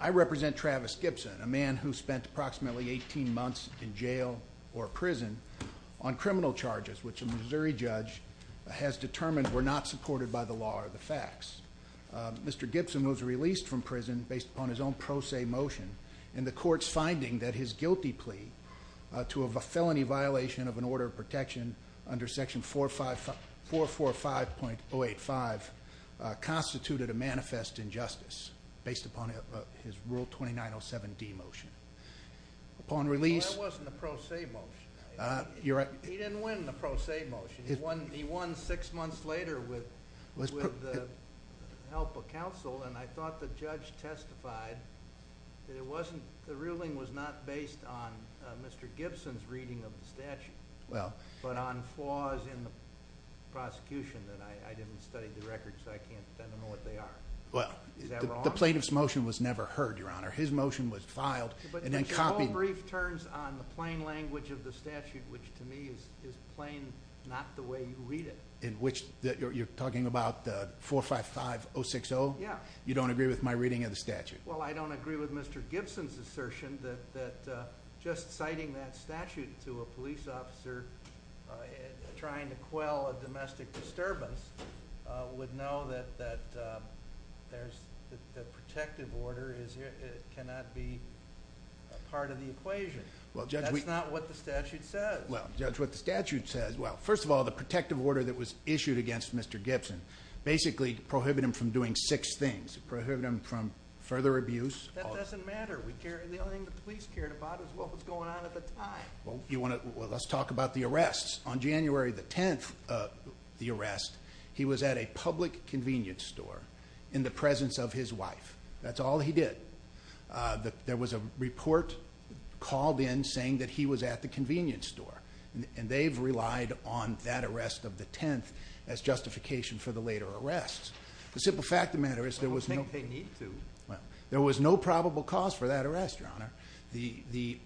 I represent Travis Gibson, a man who spent approximately 18 months in jail or prison on criminal charges which a Missouri judge has determined were not supported by the law or the facts. Mr. Gibson was released from prison based upon his own pro se motion and the court's guilty plea to a felony violation of an order of protection under section 445.085 constituted a manifest injustice based upon his rule 2907D motion. Upon release... Well that wasn't a pro se motion. You're right. He didn't win the pro se motion, he won six months later with the help of counsel and I thought the judge testified that it wasn't, the ruling was not based on Mr. Gibson's reading of the statute, but on flaws in the prosecution that I didn't study the records so I can't tell you what they are. Is that wrong? Well, the plaintiff's motion was never heard, your honor. His motion was filed and then copied. But your whole brief turns on the plain language of the statute which to me is plain not the way you read it. In which you're talking about the 455060? Yeah. You don't agree with my reading of the statute? Well, I don't agree with Mr. Gibson's assertion that just citing that statute to a police officer trying to quell a domestic disturbance would know that the protective order cannot be part of the equation. That's not what the statute says. Well, judge, what the statute says, well, first of all, the protective order that was used to prohibit him from further abuse. That doesn't matter. The only thing the police cared about was what was going on at the time. Well, let's talk about the arrests. On January the 10th, the arrest, he was at a public convenience store in the presence of his wife. That's all he did. There was a report called in saying that he was at the convenience store. And they've relied on that arrest of the 10th as justification for the later arrests. The simple fact of the matter is there was no probable cause for that arrest, your honor. The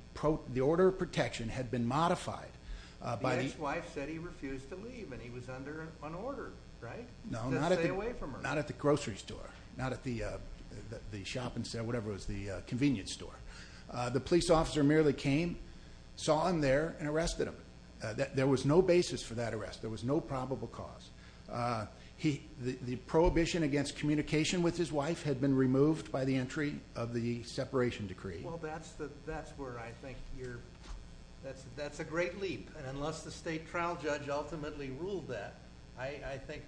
order of protection had been modified by the- The ex-wife said he refused to leave and he was under an order, right? To stay away from her. No, not at the grocery store. Not at the convenience store. The police officer merely came, saw him there, and arrested him. There was no basis for that arrest. There was no probable cause. The prohibition against communication with his wife had been removed by the entry of the separation decree. Well, that's where I think you're... That's a great leap. And unless the state trial judge ultimately ruled that, I think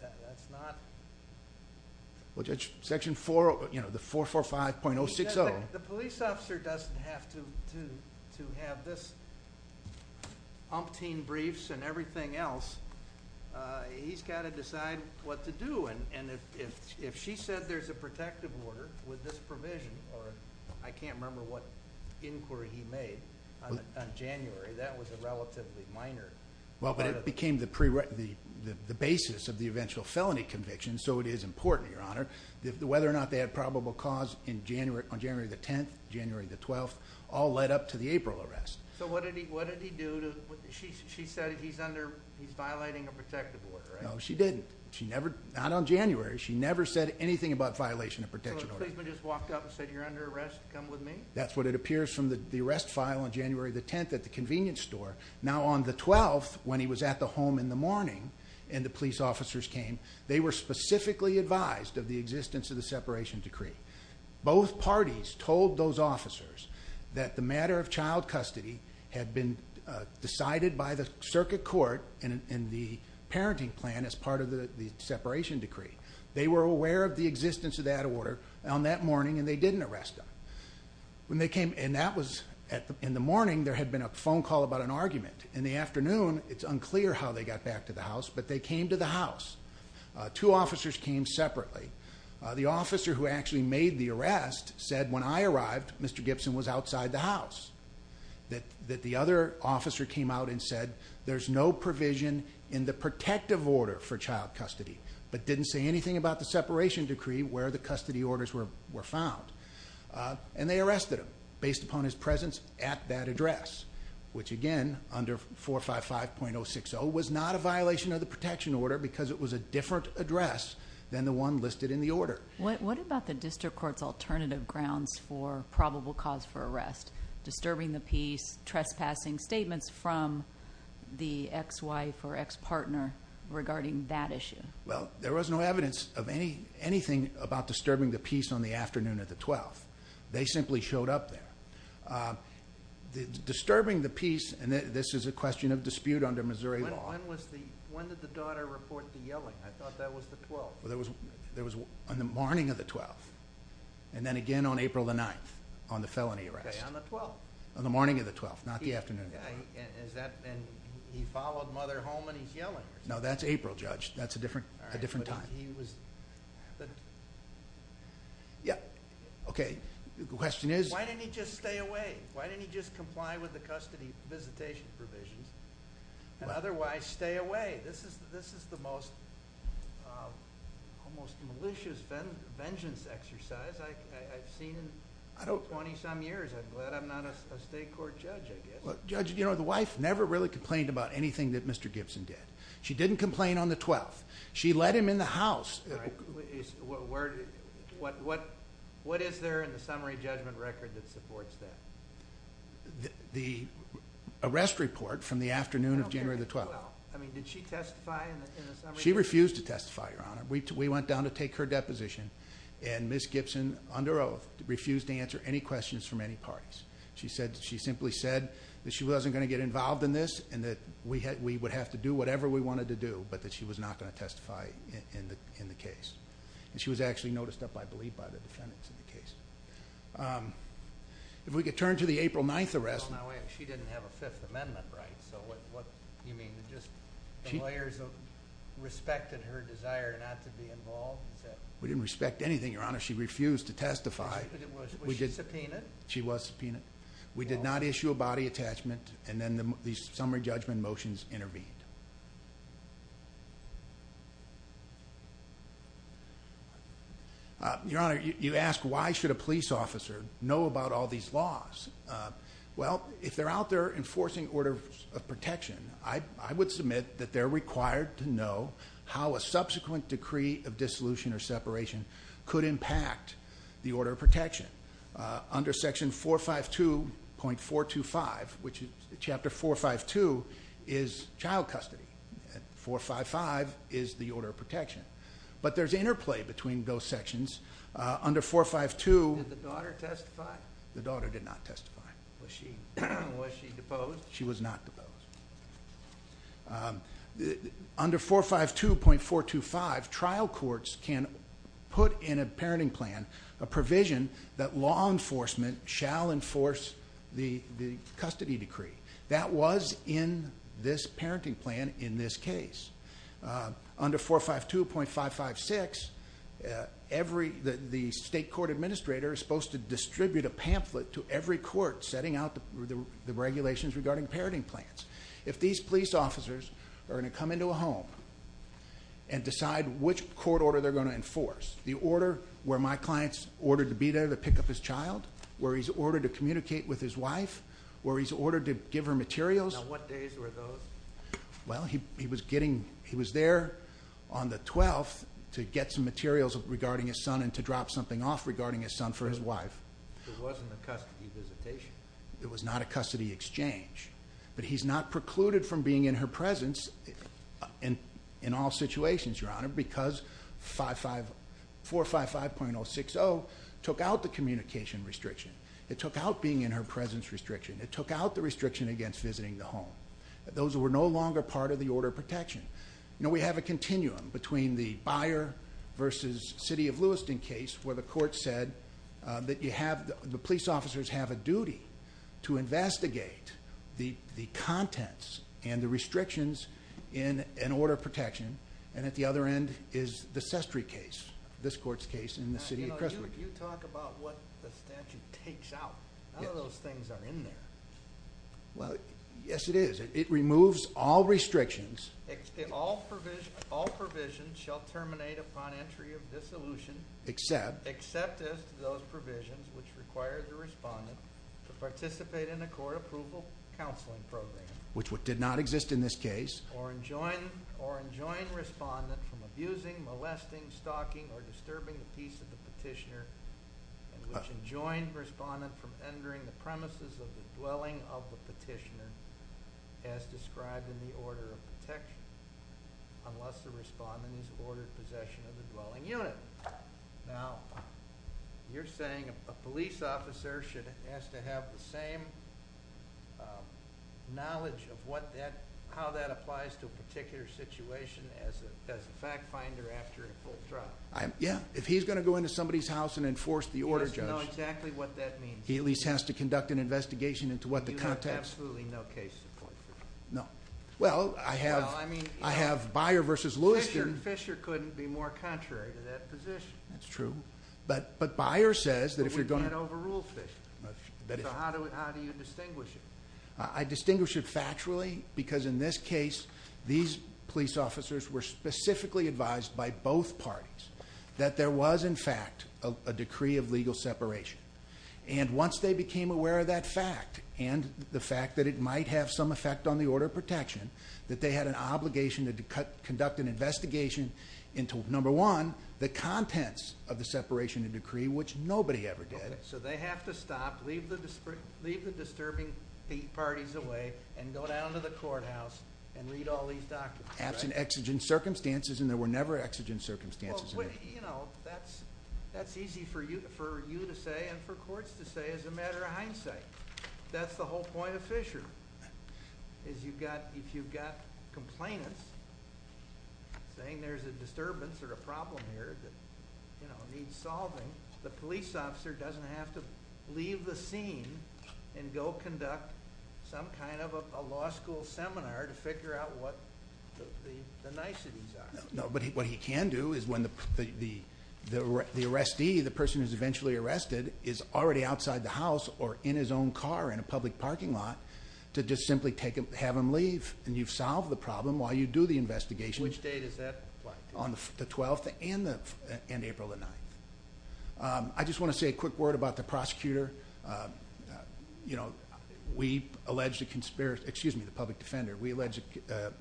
that's not- Well, Judge, Section 4, you know, the 445.060- The police officer doesn't have to have this umpteen briefs and everything else. He's got to decide what to do. And if she said there's a protective order with this provision, or I can't remember what inquiry he made on January, that was a relatively minor- Well, but it became the basis of the eventual felony conviction, so it is important, your honor, whether or not they had probable cause on January the 10th, January the 12th, all led up to the April arrest. So what did he do to... She said he's under... He's violating a protective order, right? No, she didn't. She never... Not on January. She never said anything about violation of protection order. So a policeman just walked up and said, you're under arrest, come with me? That's what it appears from the arrest file on January the 10th at the convenience store. Now on the 12th, when he was at the home in the morning, and the police officers came, they were specifically advised of the existence of the separation decree. Both parties told those officers that the matter of child custody had been decided by the circuit court and the parenting plan as part of the separation decree. They were aware of the existence of that order on that morning, and they didn't arrest him. And that was... In the morning, there had been a phone call about an argument. In the afternoon, it's unclear how they got back to the house, but they came to the house. Two officers came separately. The officer who actually made the arrest said, when I arrived, Mr. Gibson was outside the house. That the other officer came out and said, there's no provision in the protective order for child custody, but didn't say anything about the separation decree where the custody orders were found. And they arrested him, based upon his presence at that address, which again, under 455.060, was not a violation of the protection order, because it was a different address than the one listed in the order. What about the district court's alternative grounds for probable cause for arrest? Disturbing the peace, trespassing statements from the ex-wife or ex-partner regarding that issue? Well, there was no evidence of anything about disturbing the peace on the afternoon of the 12th. They simply showed up there. Disturbing the peace, and this is a question of dispute under Missouri law. When did the daughter report the yelling? I thought that was the 12th. It was on the morning of the 12th, and then again on April the 9th, on the felony arrest. Okay, on the 12th. On the morning of the 12th, not the afternoon of the 12th. And he followed mother home, and he's yelling? No, that's April, Judge. That's a different time. Okay, the question is? Why didn't he just stay away? Why didn't he just comply with the custody visitation provisions, and otherwise stay away? This is the most malicious vengeance exercise I've seen in 20-some years. I'm glad I'm not a state court judge, I guess. Judge, you know, the wife never really complained about anything that Mr. Gibson did. She didn't complain on the 12th. She let him in the house. What is there in the summary judgment record that supports that? The arrest report from the afternoon of January the 12th. Did she testify in the summary judgment? She refused to testify, Your Honor. We went down to take her deposition, and Ms. Gibson, under oath, refused to answer any questions from any parties. She simply said that she wasn't going to get involved in this, and that we would have to do whatever we wanted to do, but that she was not going to testify in the case. She was actually noticed up, I believe, by the defendants in the case. If we could turn to the April 9th arrest. She didn't have a Fifth Amendment right, so what do you mean? The lawyers respected her desire not to be involved? We didn't respect anything, Your Honor. She refused to testify. Was she subpoenaed? She was subpoenaed. We did not issue a body attachment, and then the summary judgment motions intervened. Your Honor, you ask why should a police officer know about all these laws? Well, if they're out there enforcing orders of protection, I would submit that they're required to know how a subsequent decree of dissolution or separation could impact the order of protection. Under section 452.425, which is chapter 452, is child custody. And 455 is the order of protection. But there's interplay between those sections. Under 452... Did the daughter testify? The daughter did not testify. Was she deposed? She was not deposed. Under 452.425, trial courts can put in a parenting plan a provision that law enforcement shall enforce the custody decree. That was in this parenting plan in this case. Under 452.556, the state court administrator is supposed to distribute a pamphlet to every court setting out the regulations regarding parenting plans. If these police officers are going to come into a home and decide which court order they're going to enforce, the order where my client's ordered to be there to pick up his child, where he's ordered to communicate with his wife, where he's ordered to give her materials... Now, what days were those? Well, he was getting... He was there on the 12th to get some materials regarding his son and to drop something off regarding his son for his wife. It wasn't a custody visitation. It was not a custody exchange. But he's not precluded from being in her presence in all situations, Your Honor, because 455.060 took out the communication restriction. It took out being in her presence restriction. It took out the restriction against visiting the home. Those were no longer part of the order of protection. Now, we have a continuum between the Byer versus City of Lewiston case where the court said that the police officers have a duty to investigate the contents and the restrictions in an order of protection and at the other end is the Sestry case, this court's case in the City of Crestwood. Now, you know, you talk about what the statute takes out. None of those things are in there. Well, yes it is. It removes all restrictions... All provisions shall terminate upon entry of dissolution... Except... Except as to those provisions which require the respondent to participate in a court approval counseling program... Which did not exist in this case... Or enjoin respondent from abusing, molesting, stalking or disturbing the peace of the petitioner and which enjoin respondent from entering the premises of the dwelling of the petitioner as described in the order of protection unless the respondent is ordered possession of the dwelling unit. Now, you're saying a police officer should ask to have the same knowledge of how that applies to a particular situation as a fact finder after a full trial? Yeah. If he's going to go into somebody's house and enforce the order, Judge... He must know exactly what that means. He at least has to conduct an investigation into what the context... You have absolutely no case support for that. No. Well, I have... Well, I mean... I have Byer versus Lewiston... Fisher couldn't be more contrary to that position. That's true. But Byer says that if you're going... But we can't overrule Fisher. That is true. So how do you distinguish it? I distinguish it factually because in this case these police officers were specifically advised by both parties that there was, in fact, a decree of legal separation. And once they became aware of that fact and the fact that it might have some effect on the order of protection that they had an obligation to conduct an investigation into, number one, the contents of the separation of decree which nobody ever did. So they have to stop, leave the disturbing parties away and go down to the courthouse and read all these documents. Absent exigent circumstances and there were never exigent circumstances. You know, that's easy for you to say and for courts to say as a matter of hindsight. That's the whole point of Fisher. If you've got complainants saying there's a disturbance or a problem here that needs solving, the police officer doesn't have to leave the scene and go conduct some kind of a law school seminar to figure out what the niceties are. No, but what he can do is when the arrestee, the person who's eventually arrested, is already outside the house or in his own car in a public parking lot to just simply have him leave. And you've solved the problem while you do the investigation. Which date is that? On the 12th and April the 9th. I just want to say a quick word about the prosecutor. You know, we alleged a conspiracy. Excuse me, the public defender. We alleged a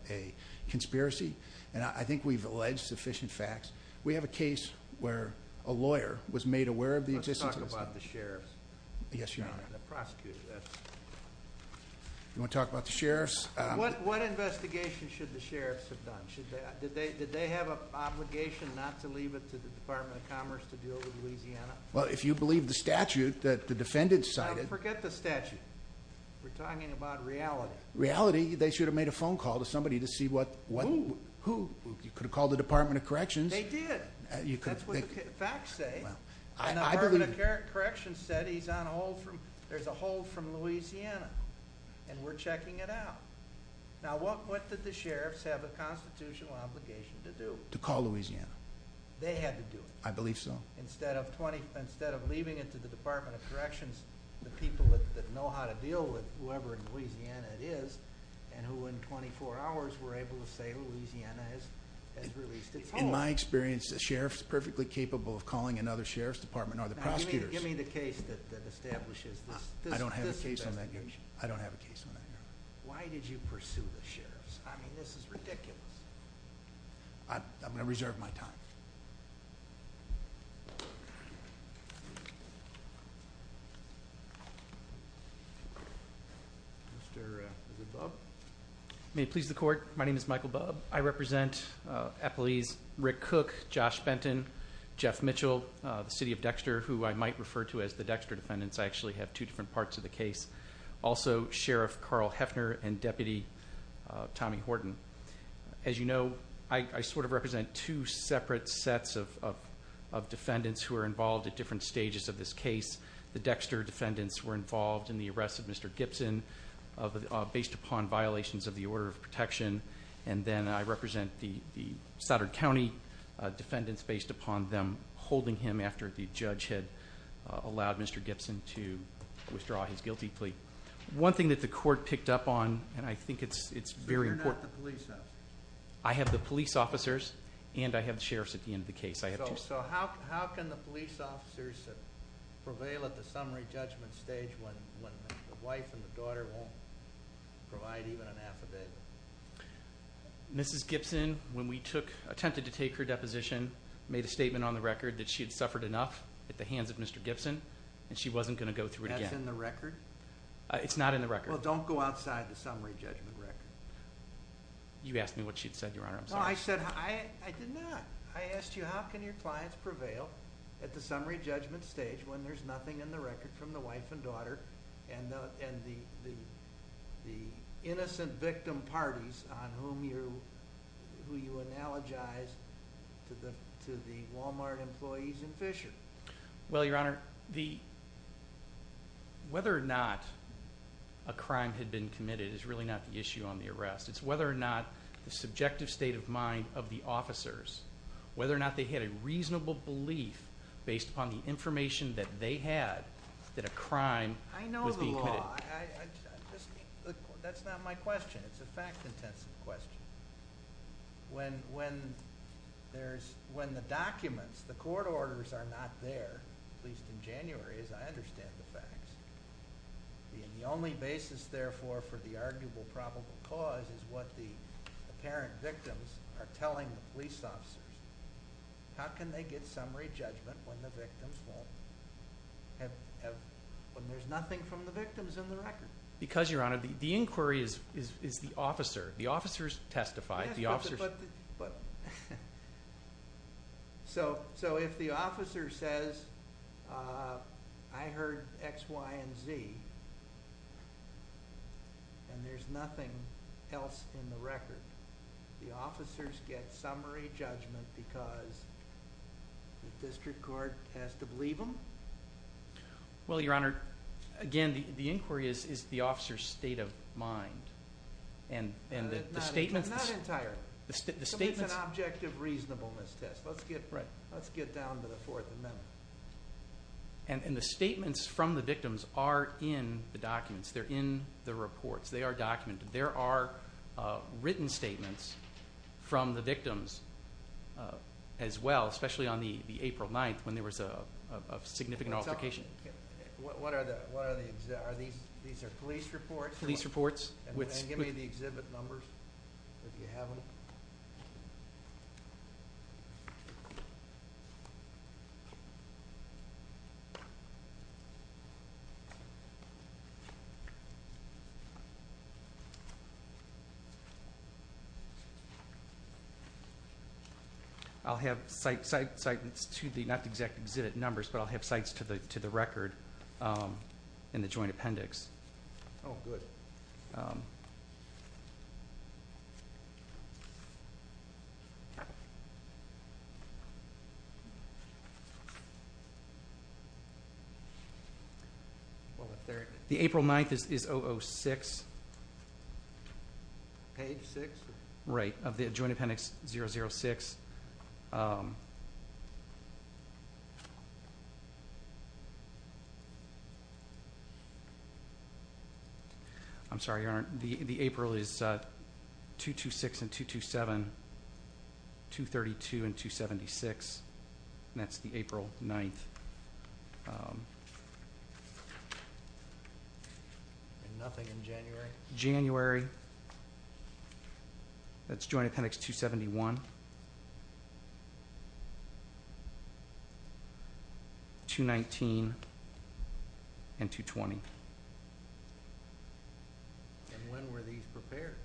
conspiracy. And I think we've alleged sufficient facts. We have a case where a lawyer was made aware of the existence. Let's talk about the sheriffs. Yes, your honor. The prosecutor. You want to talk about the sheriffs? What investigation should the sheriffs have done? Did they have an obligation not to leave it to the Department of Commerce to deal with Louisiana? Well, if you believe the statute that the defendant cited... Forget the statute. We're talking about reality. Reality? They should have made a phone call to somebody to see what... Who? Who? You could have called the Department of Corrections. They did. That's what the facts say. Well, I believe... And the Department of Corrections said he's on hold from... There's a hold from Louisiana. And we're checking it out. Now, what did the sheriffs have a constitutional obligation to do? To call Louisiana. They had to do it. I believe so. Instead of leaving it to the Department of Corrections, the people that know how to deal with whoever in Louisiana it is, and who in 24 hours were able to say, Louisiana has released its hold. In my experience, the sheriffs perfectly capable of calling another sheriff's department are the prosecutors. Now, give me the case that establishes this investigation. I don't have a case on that, your honor. Why did you pursue the sheriffs? I mean, this is ridiculous. I'm going to reserve my time. Mr. Bubb. May it please the court. My name is Michael Bubb. I represent appellees Rick Cook, Josh Benton, Jeff Mitchell, the city of Dexter, who I might refer to as the Dexter defendants. I actually have two different parts of the case. Also, Sheriff Carl Hefner and Deputy Tommy Horton. As you know, I sort of represent two separate sets of defendants who are involved at different stages of this case. The Dexter defendants were involved in the arrest of Mr. Gibson based upon violations of the order of protection. And then I represent the Saturn County defendants based upon them holding him after the judge had allowed Mr. Gibson to withdraw his guilty plea. One thing that the court picked up on, and I think it's very important. So you're not the police officer? I have the police officers and I have the sheriffs at the end of the case. So how can the police officers prevail at the summary judgment stage when the wife and the daughter won't provide even an affidavit? Mrs. Gibson, when we took, attempted to take her deposition, made a statement on the record that she had suffered enough at the hands of Mr. Gibson and she wasn't going to go through it again. That's in the record? It's not in the record. Well, don't go outside the summary judgment record. You asked me what she'd said, Your Honor. I'm sorry. No, I said, I did not. I asked you how can your clients prevail at the summary judgment stage when there's nothing in the record from the wife and daughter and the innocent victim parties on whom you, who you analogize to the Walmart employees in Fisher. Well, Your Honor, the, whether or not a crime had been committed is really not the issue on the arrest. It's whether or not the subjective state of mind of the officers, whether or not they had a reasonable belief based upon the information that they had that a crime was being committed. I know the law. That's not my question. It's a fact-intensive question. When, when there's, when the documents, the court orders are not there, at least in January, as I understand the facts, the only basis, therefore, for the arguable probable cause is what the apparent victims are telling the police officers. How can they get summary judgment when the victims won't have, have, when there's nothing from the victims in the record? Because, Your Honor, the inquiry is, is, is the officer. The officers testify. The officers... So, so if the officer says I heard X, Y, and Z and there's nothing else in the record, the officers get summary judgment because the district court has to believe them? Well, Your Honor, again, the inquiry is, is the officer's state of mind. And, and the statements... Not entirely. The statements... It's an objective reasonableness test. Let's get, let's get down to the Fourth Amendment. And, and the statements from the victims are in the documents. They're in the reports. They are documented. There are written statements from the victims as well, especially on the April 9th when there was a, a significant altercation. What, what are the, what are the, are these, these are police reports? Police reports with... And give me the exhibit numbers if you have them. I'll have sites, sites to the, not the exact exhibit numbers, but I'll have sites to the, to the record in the joint appendix. Oh, good. Um... Well, the third... The April 9th is, is 006. Page 6? Right. Of the joint appendix 006. Um... I'm sorry, Your Honor. The, the April is, uh, 226 and 227. 232 and 276. And that's the April 9th. Um... And nothing in January? January. That's joint appendix 271. 219. And 220. And when were these prepared?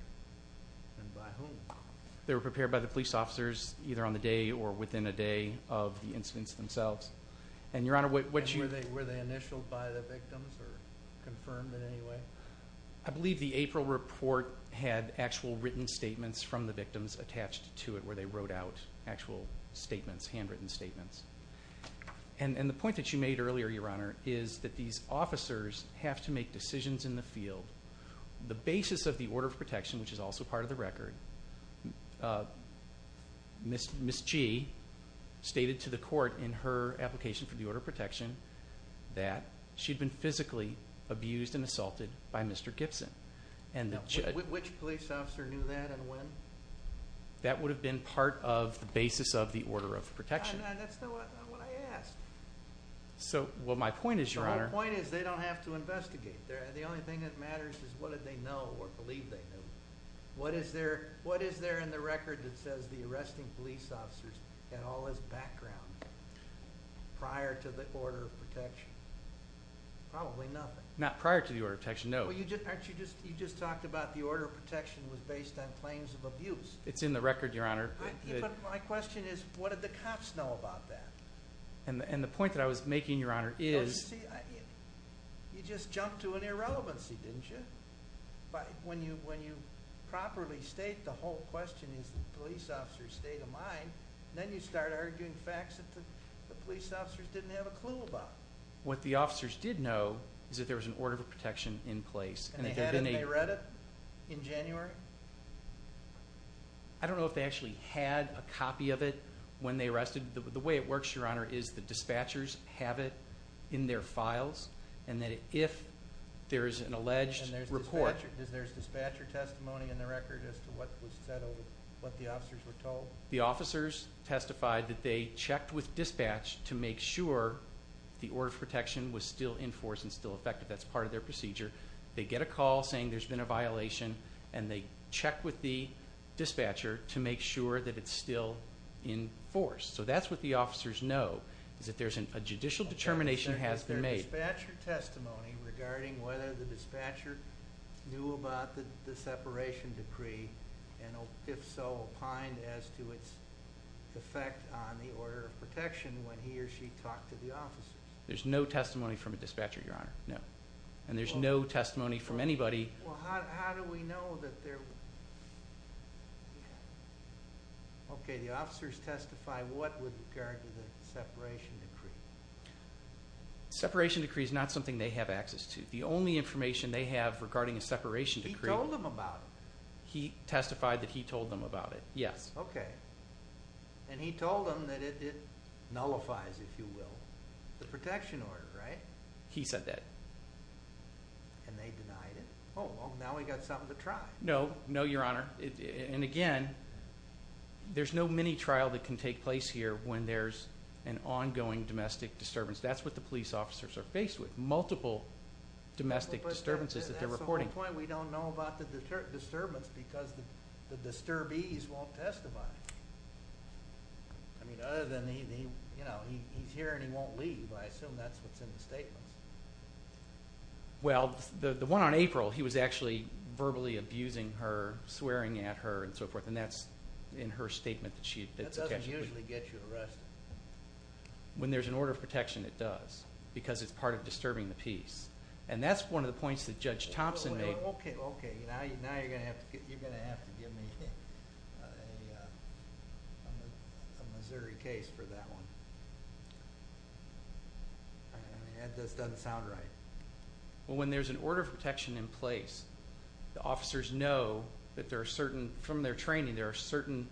And by whom? They were prepared by the police officers either on the day or within a day of the incidents themselves. And, Your Honor, what, what you... And were they, were they initialed by the victims or confirmed in any way? I believe the April report had actual written statements from the victims attached to it where they wrote out actual statements, handwritten statements. And, and the point that you made earlier, Your Honor, is that these officers have to make decisions in the field on the basis of the order of protection which is also part of the record. Uh, Miss, Miss Gee stated to the court in her application for the order of protection that she'd been physically abused and assaulted by Mr. Gibson. And the judge... Which police officer knew that and when? That would have been part of the basis of the order of protection. No, no, that's not what I asked. So, well, my point is, Your Honor... My point is they don't have to investigate. The only thing that matters is what did they know or believe they knew. What is there, what is there in the record that says the arresting police officers had all this background prior to the order of protection? Probably nothing. Not prior to the order of protection, no. Well, you just, you just talked about the order of protection was based on claims of abuse. It's in the record, Your Honor. My question is what did the cops know about that? And, and the point that I was making, Your Honor, is... Well, you see, you just jumped to an irrelevancy, didn't you? But when you, when you properly state the whole question is the police officers state of mind, then you start arguing facts that the police officers didn't have a clue about. What the officers did know is that there was an order of protection in place. And they had it? They read it? In January? I don't know if they actually had a copy of it when they arrested. The way it works, Your Honor, is the dispatchers have it in their files and that if there is an alleged report... And there's dispatcher testimony in the record as to what was settled, what the officers were told? The officers testified that they checked with dispatch to make sure the order of protection was still enforced and still effective. That's part of their procedure. They get a call saying there's been a violation and they check with the dispatcher to make sure that it's still enforced. So that's what the officers know is that a judicial determination has been made. Is there dispatcher testimony regarding whether the dispatcher knew about the separation decree and if so, opined as to its effect on the order of protection when he or she talked to the officers? There's no testimony from a dispatcher, Your Honor. No. And there's no testimony from anybody... Well, how do we know that there... Okay, the officers testify what with regard to the separation decree? The separation decree is not something they have access to. The only information they have regarding a separation decree... He told them about it. He testified that he told them about it. Yes. Okay. And he told them that it nullifies, if you will, the protection order, right? He said that. And they denied it. Oh, well, now we got something to try. No. No, Your Honor. And again, there's no mini-trial that can take place here when there's an ongoing domestic disturbance. That's what the police officers are faced with, multiple domestic disturbances that they're reporting. That's the biggest disturbance because the disturbees won't testify. I mean, other than he's here and he won't leave. I assume that's what's in the statements. Well, the one on April, he was actually verbally abusing her, swearing at her, and so forth. And that's in her statement. That doesn't usually get you arrested. When there's an order of protection, it does, because it's part of disturbing the peace. And that's one of the points that Judge Thompson made. Okay, now you're going to have to give me a Missouri case for that one. That just doesn't sound right. Well, when there's an order of protection in place, the officers know that there are certain, from their training, there are certain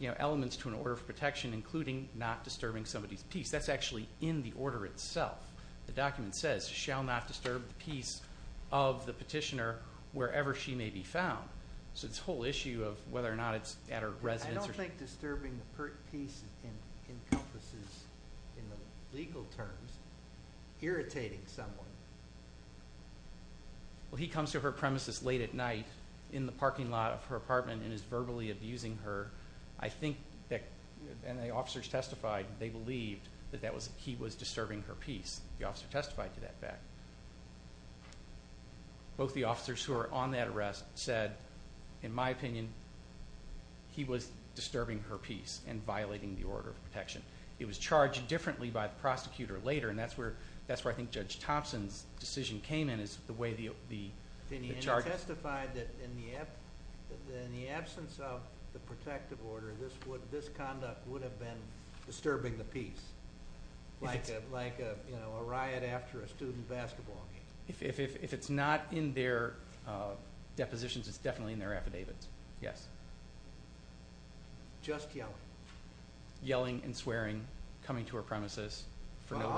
elements to an order of protection, including not disturbing somebody's peace. That's actually in the order itself. The document says, shall not disturb the peace of the petitioner wherever she may be found. So this whole issue of whether or not it's at her residence. I don't think disturbing the peace encompasses in the legal terms irritating someone. Well, he comes to her premises late at night in the parking lot of her apartment and is verbally abusing her. I think that, and the officers testified, they believed that he was disturbing her peace. The officer testified to that fact. Both the officers who were on that arrest said, in my opinion, he was disturbing her peace and violating the order of protection. It was charged differently by the prosecutor later and that's where I think Judge Thompson's decision came in. He testified that in the absence of the protective order, this conduct would have been disturbing the order of protection. And I think that's the Thank you. Thank you. Thank you. Thank you. Thank you. Thank you. Thank you. Thank you. Thank you. Thank you. Thank you. Thank you, Judge Thompson. Thank you. Thank you, Judge Thompson. Thank you.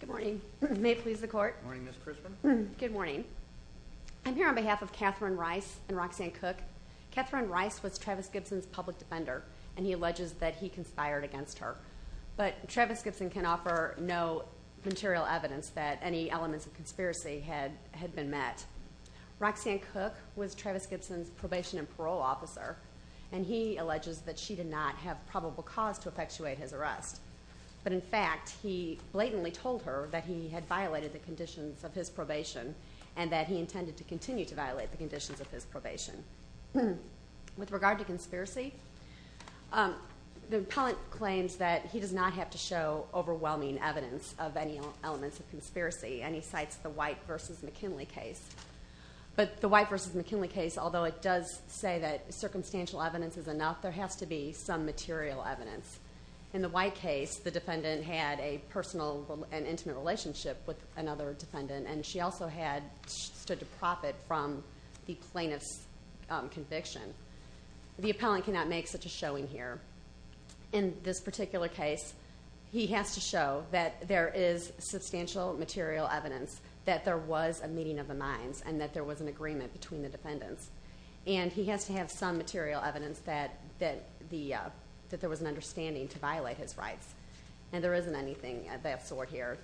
Good morning. May it please the court? Good morning, Ms Crispin. Good morning. I'm here on behalf of Catherine Rice and Roxanne Cook. Catherine Rice was Travis Gibson's public defender, and he alleges that he conspired against her. But Travis Gibson can offer no material evidence that any elements of conspiracy had been met. Roxanne Cook was Travis Gibson's law officer, and he alleges that she did not have probable cause to effectuate his arrest. But in fact, he blatantly told her that he had violated the conditions of his probation and that he intended to continue to violate the conditions of his probation. With regard to conspiracy, the appellant claims that he does not have to show overwhelming evidence of any elements of conspiracy, and he cites the White v. McKinley case. But the White v. McKinley case, although it does say that circumstantial evidence is enough, there has to be some material evidence. In the White case, the defendant had a personal and intimate relationship with another defendant, and she also had stood to profit from the plaintiff's conviction. The appellant cannot make such a showing here. In this particular case, he has to show that there is substantial material evidence that there was a meeting of the minds and that there was an agreement between the defendants. And he has to have some material evidence that there was an understanding to violate his rights. And there isn't anything of that sort here.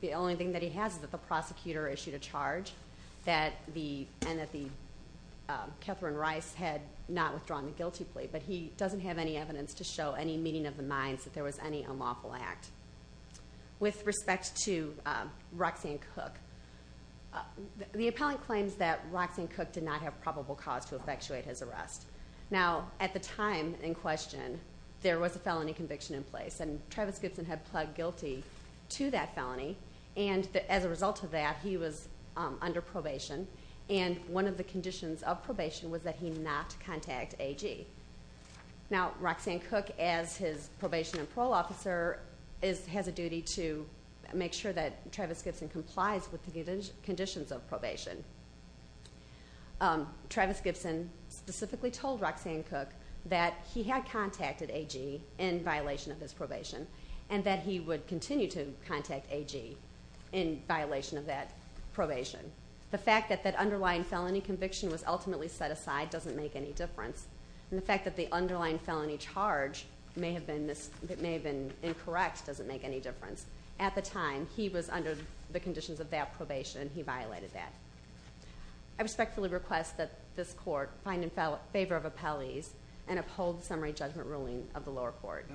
The only thing that he has is that the prosecutor issued a charge, and that Katherine Rice had not withdrawn the guilty plea, but he doesn't have any evidence to show any meeting of the minds that there was any unlawful act. With respect to Roxanne Cook, the defendant did not have probable cause to effectuate his arrest. At the time in question, there was a felony conviction in place, and Travis Gibson had pled guilty to that felony, and as a result of that, he was under probation, and one of the conditions of probation was that he not contact AG. Now, Roxanne Cook, as his probation and parole officer, has a duty to make sure that Travis Gibson complies with the conditions of probation. Travis Gibson specifically told Roxanne Cook that he had contacted AG in violation of his probation, and that he would continue to contact AG in violation of that probation. The fact that that underlying felony conviction was ultimately set aside doesn't make any difference. And the fact that the underlying felony charge may have been incorrect doesn't make any difference. At the time, he was under the conditions of that probation, and he violated that. I respectfully request that this court find in favor of appellees and uphold the summary judgment ruling of the lower court.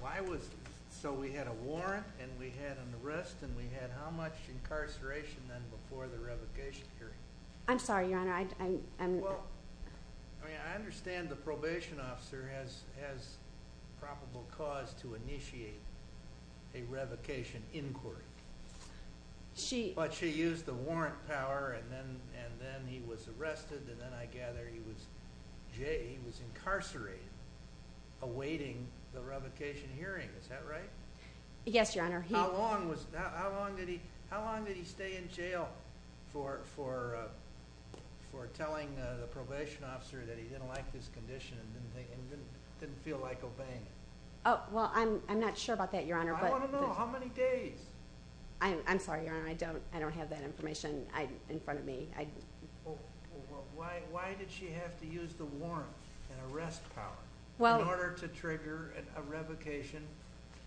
Why was it so we had a warrant, and we had an arrest, and we had how much incarceration then before the revocation period? I'm sorry, your honor. I mean, I understand the probation officer has probable cause to be in jail for a revocation inquiry. But she used the warrant power, and then he was arrested, and then I gather he was incarcerated awaiting the revocation hearing. Is that right? Yes, your honor. How long did he stay in jail for telling the probation officer that he didn't like this condition and didn't feel like obeying it? I'm not sure. I'm not sure. I'm not sure. I'm not sure. I'm not sure. I'm not sure. How many days? I'm sorry, your honor. I don't have that information in front of me. Why did she have to use the warrant and arrest power in order to trigger a revocation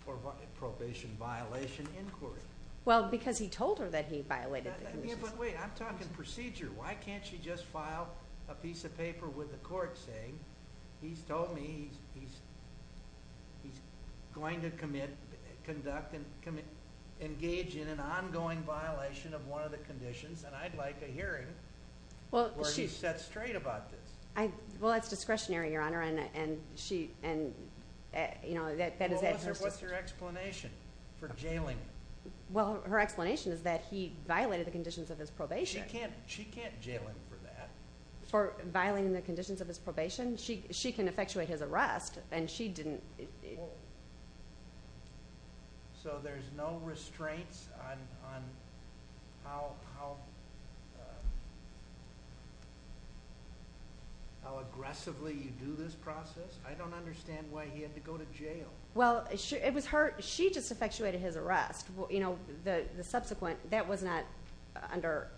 or probation violation inquiry? Well, because he told her that he violated the conditions. But wait, I'm talking procedure. Why can't she just file a piece of paper with the court saying he's told me he's going to commit, conduct, engage in an ongoing violation of one of the conditions, and I'd like a hearing where he's set straight about this. Well, that's discretionary, your honor, and she, you know, that is adjusted. Well, what's her explanation for jailing him? Well, her explanation is that he violated the conditions of his probation. She can't jail him for that. For violating the conditions of his probation? She can effectuate his arrest, and she didn't. So there's no restraints on how aggressively you do this process? I don't understand why he had to go to jail. Well, it was her. She just effectuated his arrest. You know, the subsequent, that was not under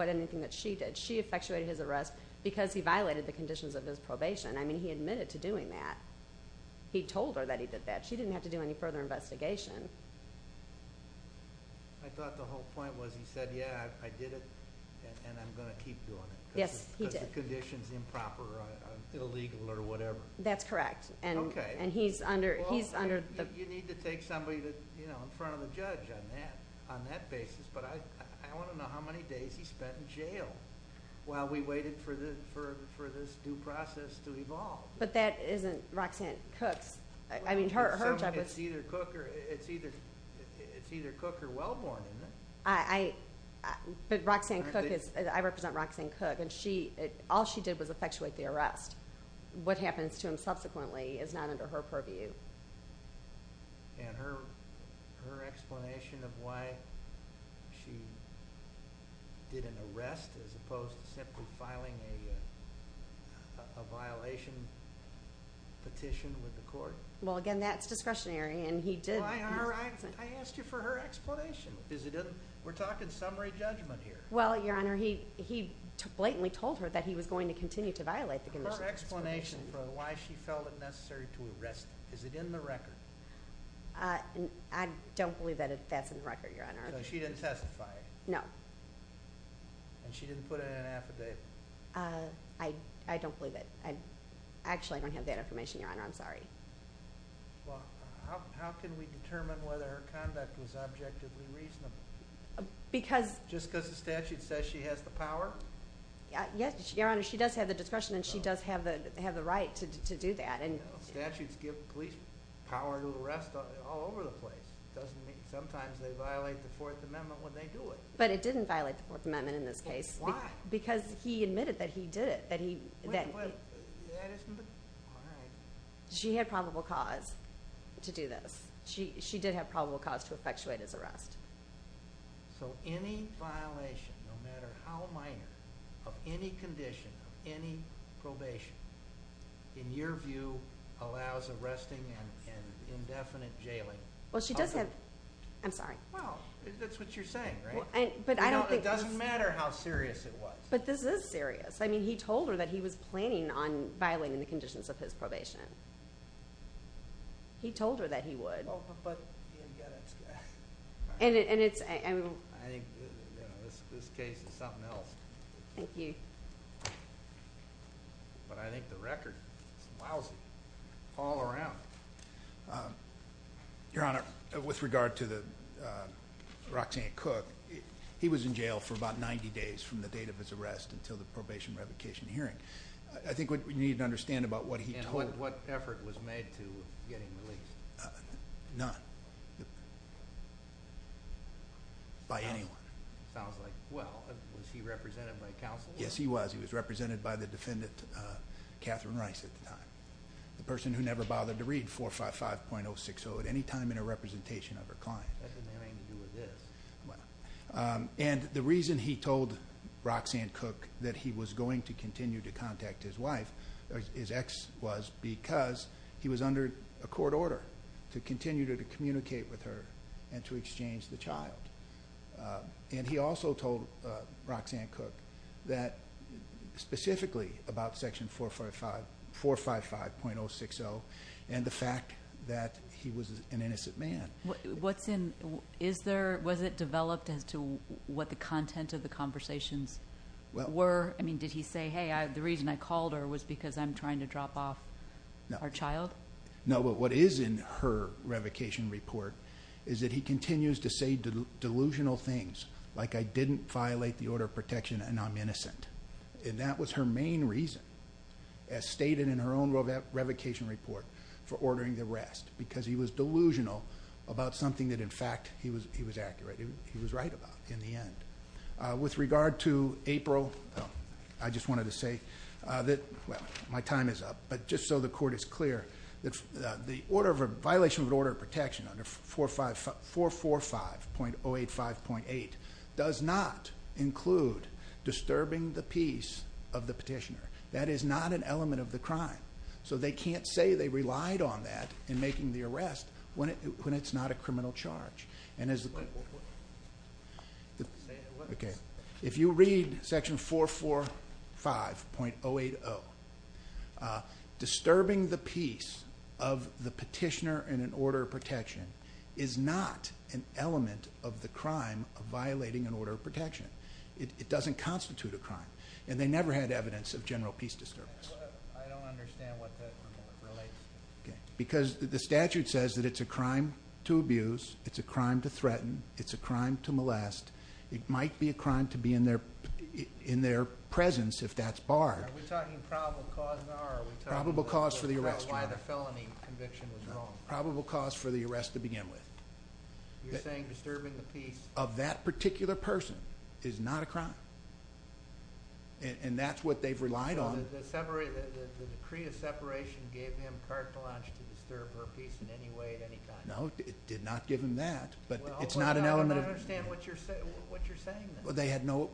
anything that she did. She effectuated his arrest because he violated the conditions of his probation. I mean, he admitted to doing that. He told her that he did that. She didn't have to do any further investigation. I thought the whole point was he said, yeah, I did it, and I'm going to keep doing it. Yes, he did. Because the condition's improper or illegal or whatever. That's correct. Okay. And he's under the... Well, you need to take somebody, you know, in front of the judge on that basis, but I want to know how many days he spent in jail while we But that isn't Roxanne Cooke's. I mean, her job was... It's either Cooke or Wellborn, isn't it? But Roxanne Cooke is... I represent Roxanne Cooke, and all she did was effectuate the arrest. What happens to him subsequently is not under her purview. And her explanation of why she did an arrest as opposed to simply filing a violation petition with the court? Well, again, that's discretionary, and he did... I asked you for her explanation. We're talking summary judgment here. Well, Your Honor, he blatantly told her that he was going to continue to violate the condition. Her explanation for why she felt it necessary to arrest him, is it in the record? I don't believe that that's in the record, Your Honor. So she didn't testify? No. And she didn't put in an affidavit? I don't believe it. Actually, I don't have that information, Your Honor. I'm sorry. Well, how can we determine whether her conduct was objectively reasonable? Because... Just because the statute says she has the power? Yes, Your Honor, she does have the discretion, and she does have the right to do that. Statutes give police power to arrest all over the place. It doesn't mean... Sometimes they violate the Fourth Amendment when they do it. But it didn't violate the Fourth Amendment in this case. Why? Because he admitted that he did it, that he... Wait, wait. That isn't... All right. She had probable cause to do this. She did have probable cause to effectuate his arrest. So any violation, no matter how minor, of any condition, of any probation, in your view, allows arresting and indefinite jailing? Well, she does have... I'm sorry. Well, that's what you're saying, right? But I don't think... It doesn't matter how serious it was. But this is serious. I mean, he told her that he was planning on violating the conditions of his probation. He told her that he would. Well, but... He didn't get it. And it's... I think this case is something else. Thank you. But I think the record is lousy all around. Your Honor, with regard to the... He was in jail for about 90 days from the date of his arrest until the probation revocation hearing. I think what you need to understand about what he told... And what effort was made to get him released? None. By anyone. Sounds like... Well, was he represented by counsel? Yes, he was. He was represented by the defendant, Catherine Rice, at the time, the person who never bothered to read 455.060 at any time in her representation of her client. That didn't have anything to do with this. And the reason he told Roxanne Cooke that he was going to continue to contact his wife, his ex, was because he was under a court order to continue to communicate with her and to exchange the child. And he also told Roxanne Cooke that, specifically about section 455.060 and the fact that he was an innocent man. What's in... Was it developed as to what the content of the conversations were? Did he say, hey, the reason I called her was because I'm trying to drop off our child? No, but what is in her revocation report is that he continues to say delusional things, like I didn't violate the order of protection and I'm innocent. And that was her main reason, as stated in her own revocation report, for ordering the arrest, because he was delusional about something that, in fact, he was accurate, he was right about in the end. With regard to April, I just wanted to say that... Well, my time is up, but just so the court is clear, the violation of an order of protection under 445.085.8 does not include disturbing the peace of the petitioner. That is not an element of the crime. So they can't say they relied on that in making the arrest when it's not a criminal charge. If you read section 445.080, disturbing the peace of the petitioner in an order of protection is not an element of the crime of violating an order of protection. It doesn't constitute a crime, and they never had evidence of general peace disturbance. I don't understand what that relates to. Because the statute says that it's a crime to abuse, it's a crime to threaten, it's a crime to molest. It might be a crime to be in their presence, if that's barred. Are we talking probable cause now, or are we talking about why the felony conviction was wrong? Probable cause for the arrest to begin with. You're saying disturbing the peace... Of that particular person is not a crime. And that's what they've relied on. The decree of separation gave him carte blanche to disturb her peace in any way at any time. No, it did not give him that. But it's not an element of... I don't understand what you're saying then. They had no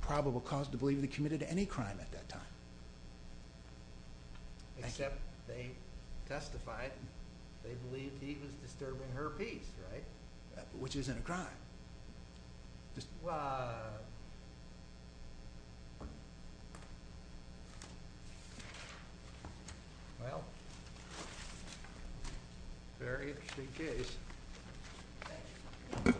probable cause to believe they committed any crime at that time. Except they testified they believed he was disturbing her peace, right? Which isn't a crime. Just... Well... Very interesting case.